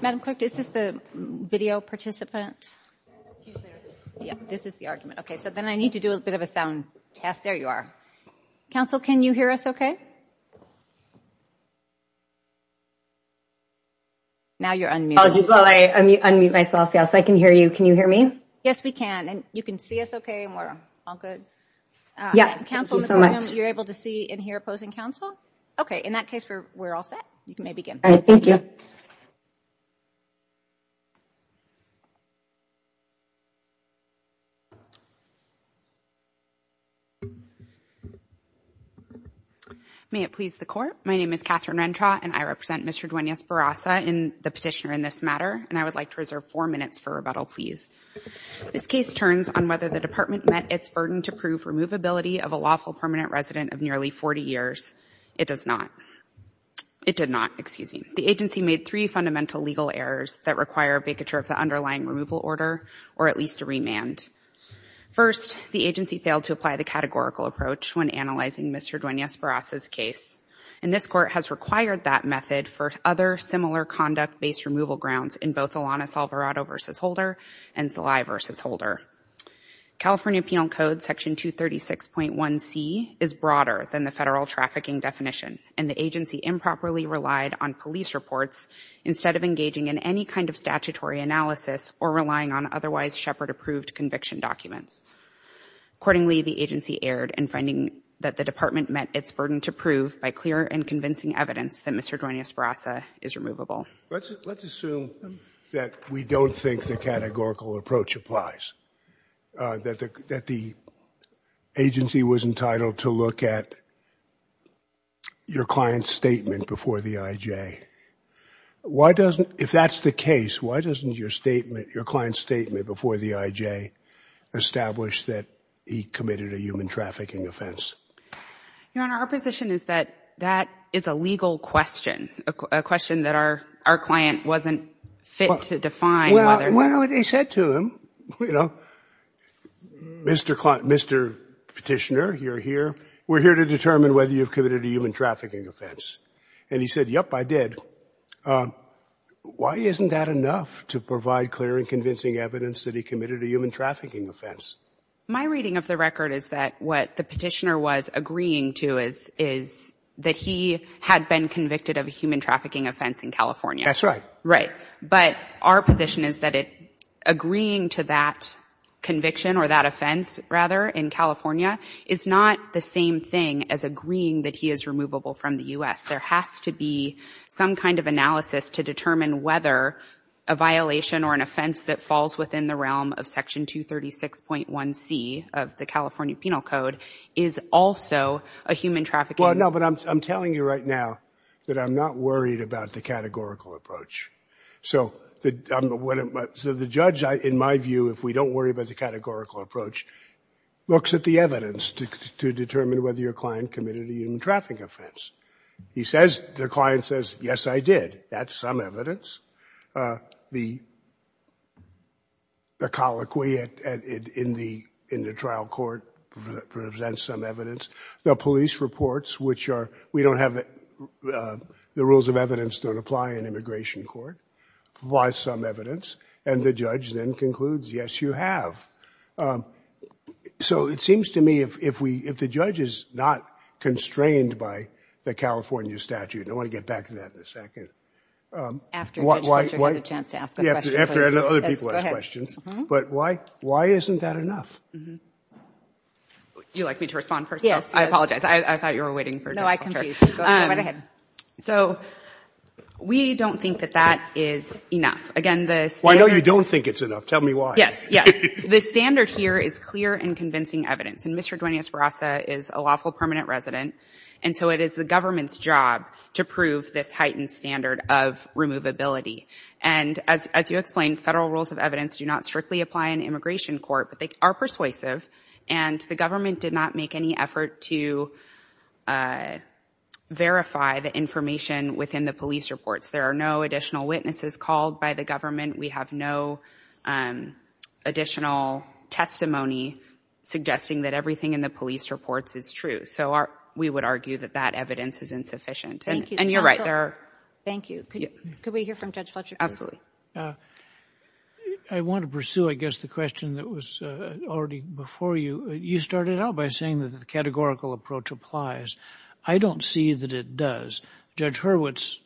Madam Clerk, is this the video participant? Yeah, this is the argument. Okay, so then I need to do a bit of a sound test. There you are. Council, can you hear us okay? Now you're unmuted. I'll just unmute myself so I can hear you. Can you hear me? Yes, we can. And you can see us okay and we're all good? Yeah, thank you so much. Council, you're able to see and hear opposing council? Okay, in that case, we're all set. You may begin. All right, thank you. May it please the court, my name is Catherine Rentra and I represent Mr. Duenas Barraza, the petitioner in this matter. And I would like to reserve four minutes for rebuttal, please. This case turns on whether the department met its burden to prove removability of a lawful permanent resident of nearly 40 years. It does not. It did not, excuse me. The agency made three fundamental legal errors that require a vacature of the underlying removal order or at least a remand. First, the agency failed to apply the categorical approach when analyzing Mr. Duenas Barraza's case. And this court has required that method for other similar conduct-based removal grounds in both Alanis Alvarado v. Holder and Salih v. Holder. California Penal Code Section 236.1c is broader than the federal trafficking definition and the agency improperly relied on police reports instead of engaging in any kind of statutory analysis or relying on otherwise Shepard-approved conviction documents. Accordingly, the agency erred in finding that the department met its burden to prove by clear and convincing evidence that Mr. Duenas Barraza is removable. Let's assume that we don't think the categorical approach applies, that the agency was entitled to look at your client's statement before the IJ. Why doesn't, if that's the case, why doesn't your statement, your client's statement before the IJ establish that he committed a human trafficking offense? Your Honor, our position is that that is a legal question, a question that our client wasn't fit to define whether or not. Well, they said to him, you know, Mr. Petitioner, you're here. We're here to determine whether you've committed a human trafficking offense. And he said, yep, I did. Why isn't that enough to provide clear and convincing evidence that he committed a human trafficking offense? My reading of the record is that what the Petitioner was agreeing to is that he had been convicted of a human trafficking offense in California. That's right. Right. But our position is that agreeing to that conviction or that offense, rather, in California is not the same thing as agreeing that he is removable from the U.S. There has to be some kind of analysis to determine whether a violation or an offense that falls within the realm of Section 236.1c of the California Penal Code is also a human trafficking offense. Well, no, but I'm telling you right now that I'm not worried about the categorical approach. So the judge, in my view, if we don't worry about the categorical approach, looks at the evidence to determine whether your client committed a human trafficking offense. He says, the client says, yes, I did. That's some evidence. The colloquy in the trial court presents some evidence. The police reports, which are, we don't have, the rules of evidence don't apply in immigration court. Why some evidence? And the judge then concludes, yes, you have. So it seems to me if the judge is not constrained by the California statute, I want to get back to that in a second. After Judge Fischer has a chance to ask a question, please. After other people ask questions. But why isn't that enough? Would you like me to respond first? Yes. I apologize. I thought you were waiting for Judge Fischer. No, I complete. Go right ahead. So we don't think that that is enough. Again, the standard. Well, I know you don't think it's enough. Tell me why. Yes, yes. The standard here is clear and convincing evidence. And Mr. Duenas-Barraza is a lawful permanent resident. And so it is the government's job to prove this heightened standard of removability. And as you explained, Federal rules of evidence do not strictly apply in immigration court. But they are persuasive. And the government did not make any effort to verify the information within the police reports. There are no additional witnesses called by the government. We have no additional testimony suggesting that everything in the police reports is true. So we would argue that that evidence is insufficient. And you're right. Thank you. Could we hear from Judge Fischer? Absolutely. I want to pursue, I guess, the question that was already before you. You started out by saying that the categorical approach applies. I don't see that it does. Judge Hurwitz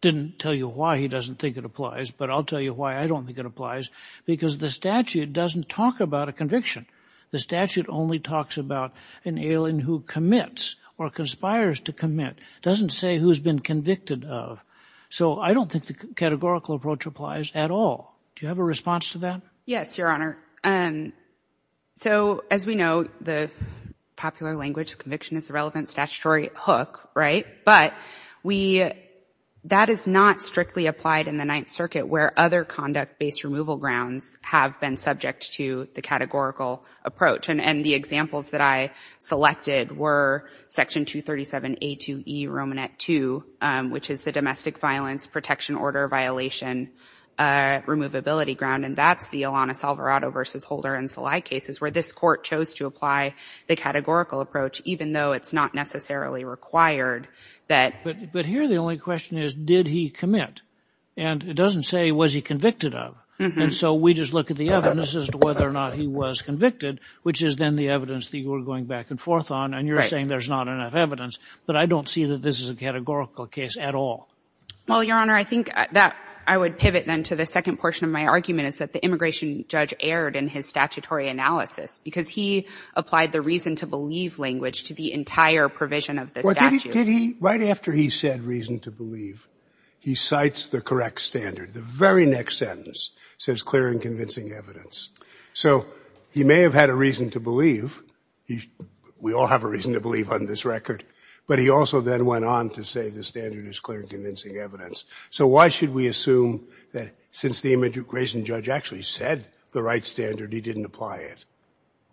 didn't tell you why he doesn't think it applies. But I'll tell you why I don't think it applies. Because the statute doesn't talk about a conviction. The statute only talks about an alien who commits or conspires to commit. It doesn't say who's been convicted of. So I don't think the categorical approach applies at all. Do you have a response to that? Yes, Your Honor. So as we know, the popular language conviction is a relevant statutory hook, right? But that is not strictly applied in the Ninth Circuit where other conduct-based removal grounds have been subject to the categorical approach. And the examples that I selected were Section 237A2E, Romanette 2, which is the Domestic Violence Protection Order Violation Removability Ground. And that's the Alanis Alvarado v. Holder and Salai cases where this court chose to apply the categorical approach, even though it's not necessarily required that. But here the only question is, did he commit? And it doesn't say, was he convicted of? And so we just look at the evidence as to whether or not he was convicted, which is then the evidence that you were going back and forth on. And you're saying there's not enough evidence. But I don't see that this is a categorical case at all. Well, Your Honor, I think that I would pivot then to the second portion of my argument, is that the immigration judge erred in his statutory analysis because he applied the reason to believe language to the entire provision of the statute. Did he? Right after he said reason to believe, he cites the correct standard. The very next sentence says clear and convincing evidence. So he may have had a reason to believe. We all have a reason to believe on this record. But he also then went on to say the standard is clear and convincing evidence. So why should we assume that since the immigration judge actually said the right standard, he didn't apply it?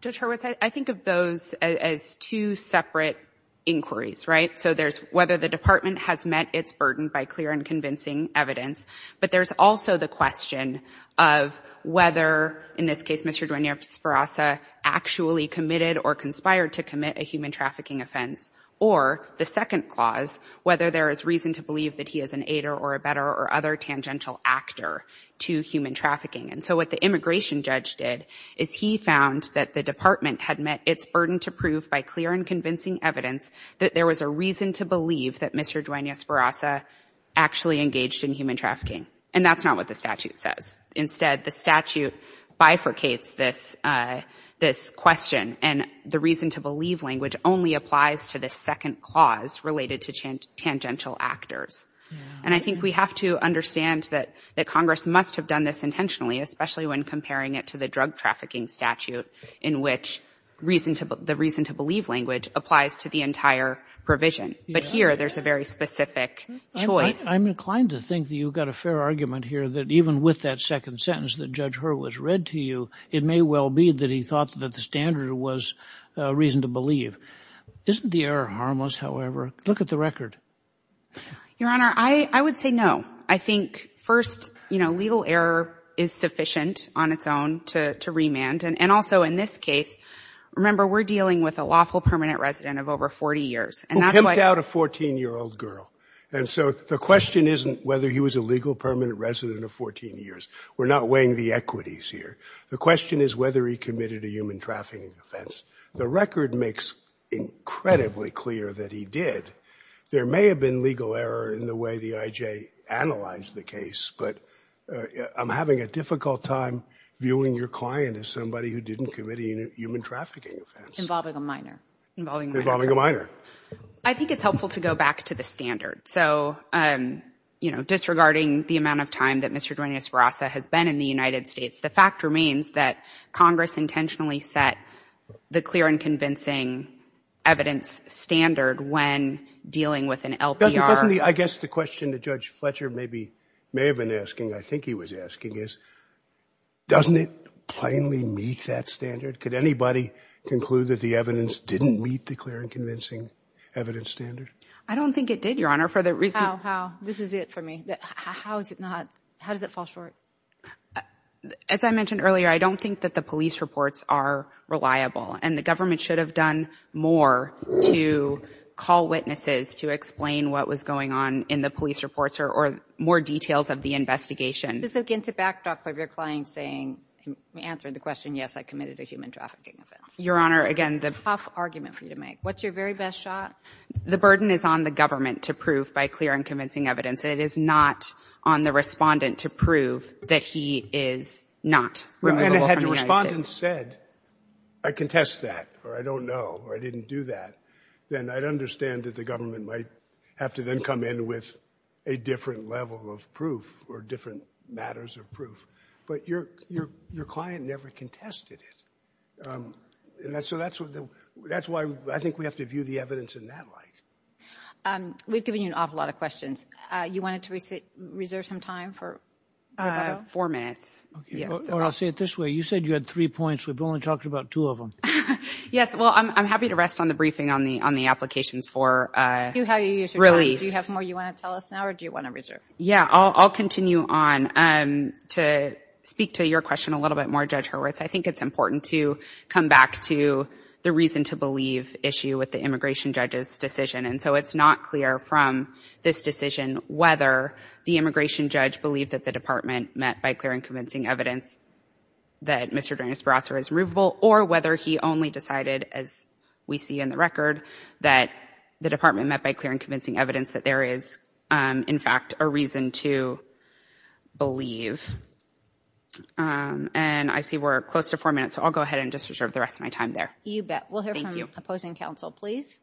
Judge Hurwitz, I think of those as two separate inquiries, right? So there's whether the Department has met its burden by clear and convincing evidence. But there's also the question of whether, in this case, Mr. Duanear-Esparza actually committed or conspired to commit a human trafficking offense, or the second clause, whether there is reason to believe that he is an aider or a better or other tangential actor to human trafficking. And so what the immigration judge did is he found that the Department had met its burden to prove by clear and convincing evidence that there was a reason to believe that Mr. Duanear-Esparza actually engaged in human trafficking. And that's not what the statute says. Instead, the statute bifurcates this question, and the reason to believe language only applies to the second clause related to tangential actors. And I think we have to understand that Congress must have done this intentionally, especially when comparing it to the drug trafficking statute in which the reason to believe language applies to the entire provision. But here, there's a very specific choice. I'm inclined to think that you've got a fair argument here that even with that second sentence that Judge Hurwitz read to you, it may well be that he thought that the standard was reason to believe. Isn't the error harmless, however? Look at the record. Your Honor, I would say no. I think, first, you know, legal error is sufficient on its own to remand. And also in this case, remember, we're dealing with a lawful permanent resident of over 40 years. And that's why — Who pimped out a 14-year-old girl. And so the question isn't whether he was a legal permanent resident of 14 years. We're not weighing the equities here. The question is whether he committed a human trafficking offense. The record makes incredibly clear that he did. There may have been legal error in the way the I.J. analyzed the case. But I'm having a difficult time viewing your client as somebody who didn't commit a human trafficking offense. Involving a minor. Involving a minor. I think it's helpful to go back to the standard. So, you know, disregarding the amount of time that Mr. Duenas-Verasa has been in the United States, the fact remains that Congress intentionally set the clear and convincing evidence standard when dealing with an LPR. Doesn't the — I guess the question that Judge Fletcher maybe — may have been asking, I think he was asking, is doesn't it plainly meet that standard? Could anybody conclude that the evidence didn't meet the clear and convincing evidence standard? I don't think it did, Your Honor, for the reason — How? How? This is it for me. How is it not — how does it fall short? As I mentioned earlier, I don't think that the police reports are reliable. And the government should have done more to call witnesses to explain what was going on in the police reports or more details of the investigation. This again is a backdrop of your client saying — answering the question, yes, I committed a human trafficking offense. Your Honor, again, the — Tough argument for you to make. What's your very best shot? The burden is on the government to prove by clear and convincing evidence. It is not on the respondent to prove that he is not — Remember, had the respondent said, I contest that, or I don't know, or I didn't do that, then I'd understand that the government might have to then come in with a different level of proof or different matters of proof. But your client never contested it. So that's why I think we have to view the evidence in that light. We've given you an awful lot of questions. You wanted to reserve some time for — Four minutes. Or I'll say it this way. You said you had three points. We've only talked about two of them. Yes, well, I'm happy to rest on the briefing on the applications for relief. Do you have more you want to tell us now or do you want to reserve? Yeah, I'll continue on to speak to your question a little bit more, Judge Hurwitz. I think it's important to come back to the reason to believe issue with the immigration judge's decision. And so it's not clear from this decision whether the immigration judge believed that the department met by clear and convincing evidence that Mr. Dennis Barrasso was removable or whether he only decided, as we see in the record, that the department met by clear and convincing evidence that there is, in fact, a reason to believe. And I see we're close to four minutes, so I'll go ahead and just reserve the rest of my time there. You bet. Thank you. Opposing counsel, please.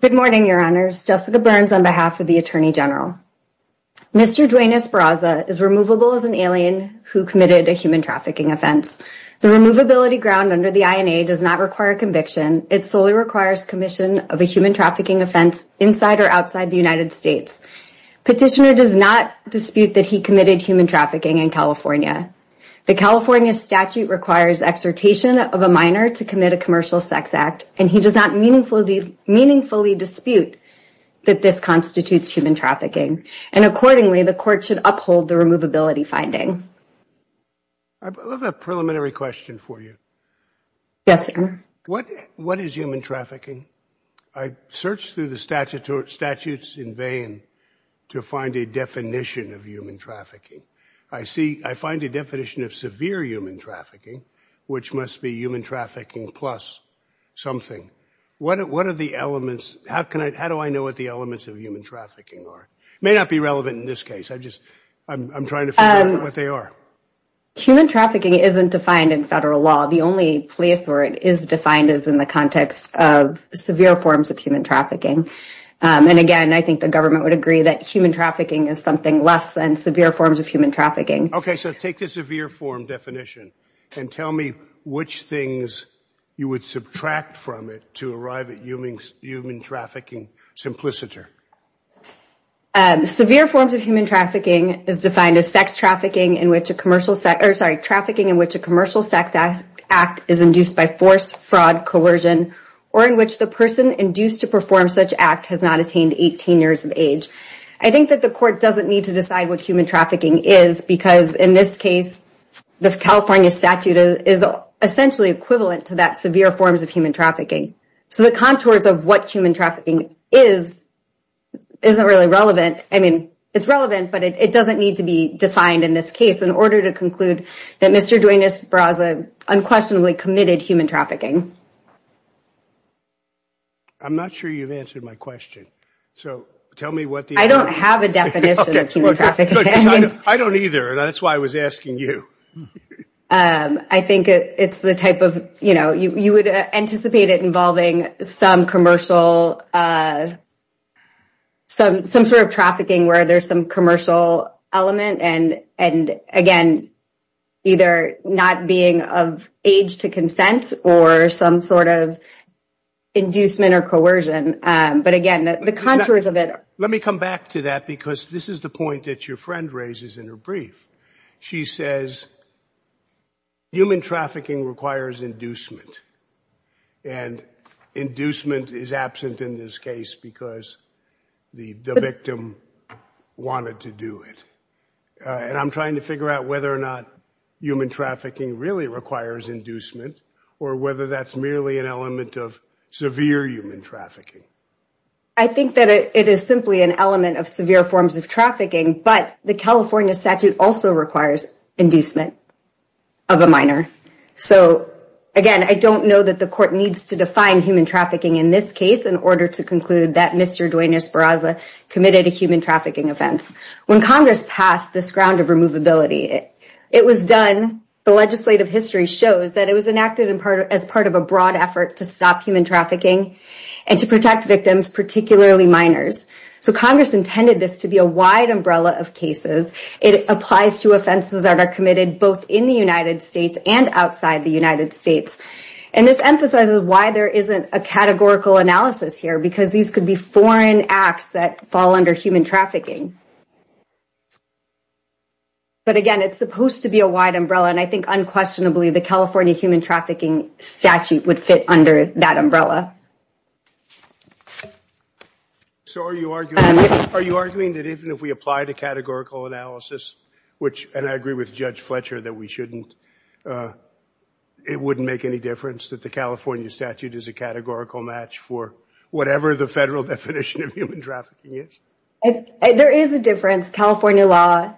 Good morning, Your Honors. Jessica Burns on behalf of the Attorney General. Mr. Dwayne Esparza is removable as an alien who committed a human trafficking offense. The removability ground under the INA does not require conviction. It solely requires commission of a human trafficking offense inside or outside the United States. Petitioner does not dispute that he committed human trafficking in California. The California statute requires exhortation of a minor to commit a commercial sex act, and he does not meaningfully dispute that this constitutes human trafficking. And accordingly, the court should uphold the removability finding. I have a preliminary question for you. Yes, sir. What is human trafficking? I searched through the statutes in vain to find a definition of human trafficking. I find a definition of severe human trafficking, which must be human trafficking plus something. What are the elements? How do I know what the elements of human trafficking are? It may not be relevant in this case. I'm trying to figure out what they are. Human trafficking isn't defined in federal law. The only place where it is defined is in the context of severe forms of human trafficking. And again, I think the government would agree that human trafficking is something less than severe forms of human trafficking. OK, so take the severe form definition and tell me which things you would subtract from it to arrive at human trafficking simpliciter. Severe forms of human trafficking is defined as trafficking in which a commercial sex act is induced by force, fraud, coercion, or in which the person induced to perform such act has not attained 18 years of age. I think that the court doesn't need to decide what human trafficking is, because in this case, the California statute is essentially equivalent to that severe forms of human trafficking. So the contours of what human trafficking is, isn't really relevant. I mean, it's relevant, but it doesn't need to be defined in this case in order to conclude that Mr. Duenas-Brasa unquestionably committed human trafficking. I'm not sure you've answered my question. So tell me what the... I don't have a definition of human trafficking. I don't either, and that's why I was asking you. I think it's the type of, you know, you would anticipate it involving some commercial, some sort of trafficking where there's some commercial element and again, either not being of age to consent or some sort of inducement or coercion. But again, the contours of it... Let me come back to that, because this is the point that your friend raises in her brief. She says human trafficking requires inducement, and inducement is absent in this case because the victim wanted to do it. And I'm trying to figure out whether or not human trafficking really requires inducement or whether that's merely an element of severe human trafficking. I think that it is simply an element of severe forms of trafficking, but the California statute also requires inducement of a minor. So again, I don't know that the court needs to define human trafficking in this case in order to conclude that Mr. Duane Esparza committed a human trafficking offense. When Congress passed this ground of removability, it was done... The legislative history shows that it was enacted as part of a broad effort to stop human trafficking and to protect victims, particularly minors. So Congress intended this to be a wide umbrella of cases. It applies to offenses that are committed both in the United States and outside the United States. And this emphasizes why there isn't a categorical analysis here, because these could be foreign acts that fall under human trafficking. But again, it's supposed to be a wide umbrella, and I think unquestionably the California human trafficking statute would fit under that umbrella. So are you arguing that even if we apply the categorical analysis, which, and I agree with Judge Fletcher that we shouldn't, it wouldn't make any difference that the California statute is a categorical match for whatever the federal definition of human trafficking is? There is a difference. California law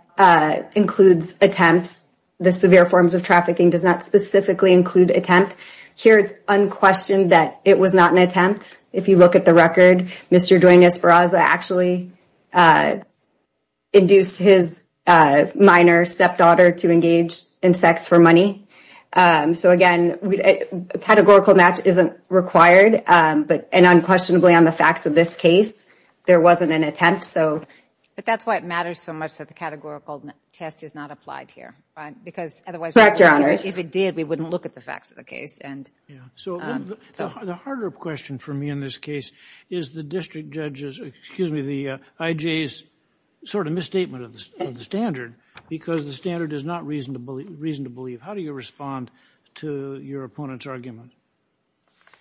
includes attempts. The severe forms of trafficking does not specifically include attempt. Here it's unquestioned that it was not an attempt. If you look at the record, Mr. Duenas-Ferraza actually induced his minor stepdaughter to engage in sex for money. So again, a categorical match isn't required, and unquestionably on the facts of this case, there wasn't an attempt. But that's why it matters so much that the categorical test is not applied here. Correct, Your Honors. If it did, we wouldn't look at the facts of the case. So the harder question for me in this case is the district judge's, excuse me, the IJ's sort of misstatement of the standard, because the standard is not reason to believe. How do you respond to your opponent's argument?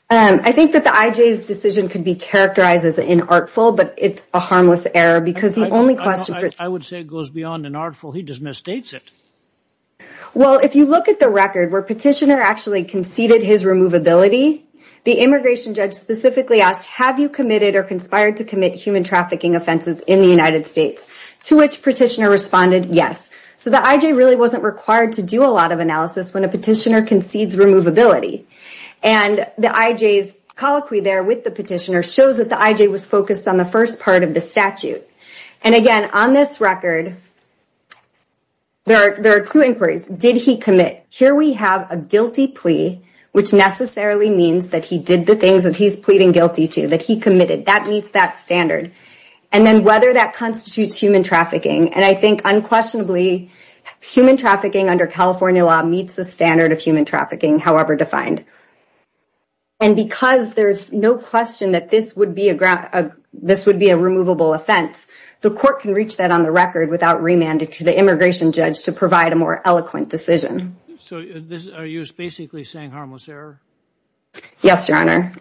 I think that the IJ's decision can be characterized as inartful, but it's a harmless error, because the only question I would say goes beyond inartful. He just misstates it. Well, if you look at the record where Petitioner actually conceded his removability, the immigration judge specifically asked, have you committed or conspired to commit human trafficking offenses in the United States? To which Petitioner responded, yes. So the IJ really wasn't required to do a lot of analysis when a petitioner concedes removability. And the IJ's colloquy there with the petitioner shows that the IJ was focused on the first part of the statute. And again, on this record, there are two inquiries. Did he commit? Here we have a guilty plea, which necessarily means that he did the things that he's pleading guilty to, that he committed. That meets that standard. And then whether that constitutes human trafficking. And I think unquestionably human trafficking under California law meets the standard of human trafficking, however defined. And because there's no question that this would be a removable offense, the court can reach that on the record without remanding to the immigration judge to provide a more eloquent decision. So are you basically saying harmless error? Yes, Your Honor.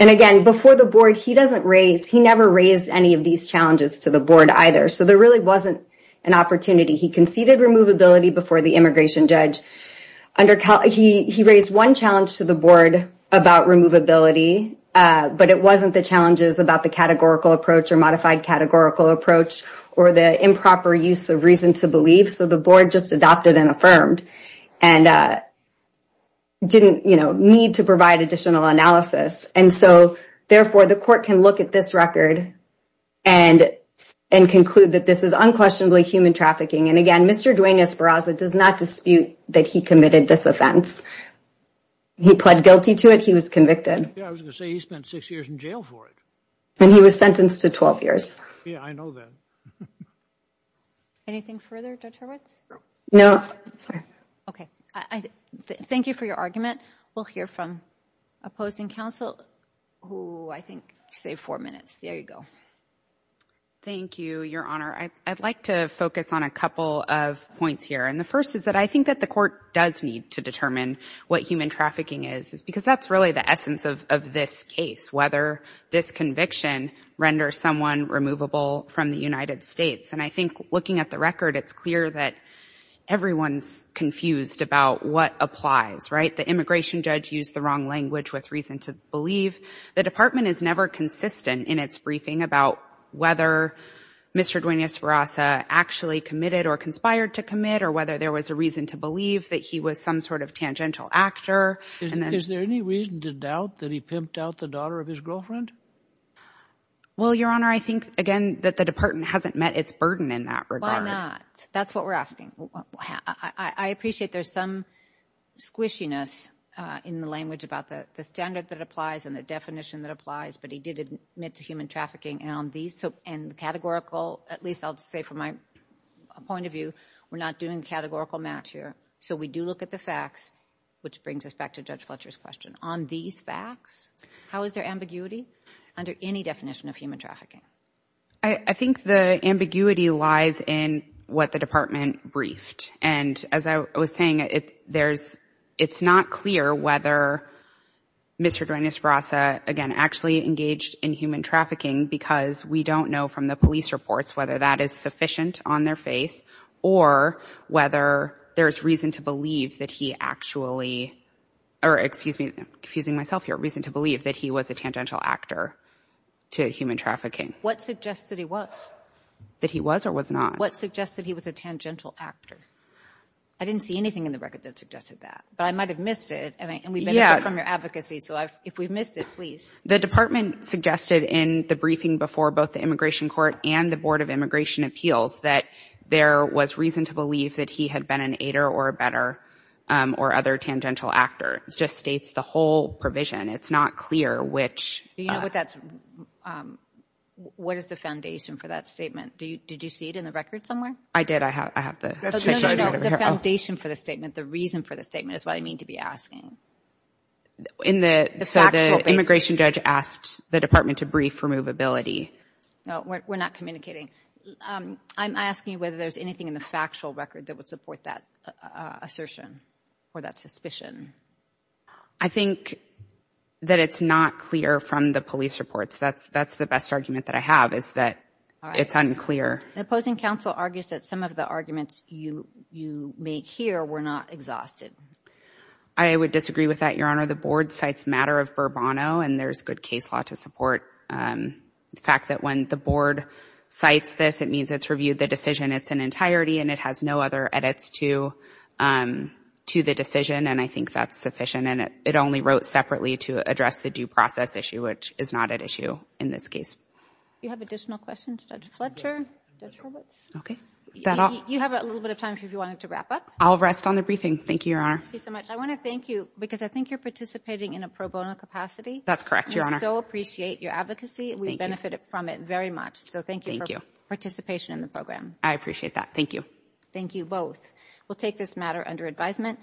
And again, before the board, he doesn't raise, he never raised any of these challenges to the board either. So there really wasn't an opportunity. He conceded removability before the immigration judge. He raised one challenge to the board about removability, but it wasn't the challenges about the categorical approach or modified categorical approach or the improper use of reason to believe. So the board just adopted and affirmed and didn't need to provide additional analysis. And so, therefore, the court can look at this record and conclude that this is unquestionably human trafficking. And again, Mr. Duane Esparza does not dispute that he committed this offense. He pled guilty to it. He was convicted. Yeah, I was going to say he spent six years in jail for it. And he was sentenced to 12 years. Yeah, I know that. Anything further, Judge Hurwitz? No. Sorry. Okay. Thank you for your argument. We'll hear from opposing counsel who I think saved four minutes. There you go. Thank you, Your Honor. I'd like to focus on a couple of points here. And the first is that I think that the court does need to determine what human trafficking is because that's really the essence of this case, whether this conviction renders someone removable from the United States. And I think looking at the record, it's clear that everyone's confused about what applies, right? The immigration judge used the wrong language with reason to believe. The department is never consistent in its briefing about whether Mr. Duenas-Ferasa actually committed or conspired to commit or whether there was a reason to believe that he was some sort of tangential actor. Is there any reason to doubt that he pimped out the daughter of his girlfriend? Well, Your Honor, I think, again, that the department hasn't met its burden in that regard. Why not? That's what we're asking. I appreciate there's some squishiness in the language about the standard that applies and the definition that applies, but he did admit to human trafficking. And categorical, at least I'll say from my point of view, we're not doing categorical match here. So we do look at the facts, which brings us back to Judge Fletcher's question. On these facts, how is there ambiguity under any definition of human trafficking? I think the ambiguity lies in what the department briefed. And as I was saying, it's not clear whether Mr. Duenas-Ferasa, again, actually engaged in human trafficking because we don't know from the police reports whether that is sufficient on their face or whether there's reason to believe that he actually... or, excuse me, I'm confusing myself here, reason to believe that he was a tangential actor to human trafficking. What suggests that he was? That he was or was not. What suggests that he was a tangential actor? I didn't see anything in the record that suggested that. But I might have missed it, and we've been hearing from your advocacy, so if we've missed it, please. The department suggested in the briefing before both the Immigration Court and the Board of Immigration Appeals that there was reason to believe that he had been an aider or a better or other tangential actor. It just states the whole provision. It's not clear which... Do you know what that's... What is the foundation for that statement? Did you see it in the record somewhere? I did. I have the... No, no, no, the foundation for the statement, the reason for the statement is what I mean to be asking. In the... So the immigration judge asked the department to brief removability. No, we're not communicating. I'm asking you whether there's anything in the factual record that would support that assertion or that suspicion. I think that it's not clear from the police reports. That's the best argument that I have, is that it's unclear. The opposing counsel argues that some of the arguments you make here were not exhausted. I would disagree with that, Your Honour. The board cites matter of Burbano, and there's good case law to support the fact that when the board cites this, it means it's reviewed the decision in its entirety and it has no other edits to the decision, and I think that's sufficient. And it only wrote separately to address the due process issue, which is not at issue in this case. Do you have additional questions, Judge Fletcher, Judge Roberts? OK. You have a little bit of time if you wanted to wrap up. I'll rest on the briefing. Thank you, Your Honour. Thank you so much. I want to thank you, because I think you're participating in a pro bono capacity. That's correct, Your Honour. We so appreciate your advocacy. Thank you. We benefit from it very much, so thank you for participation in the program. I appreciate that. Thank you. Thank you both. We'll take this matter under advisement.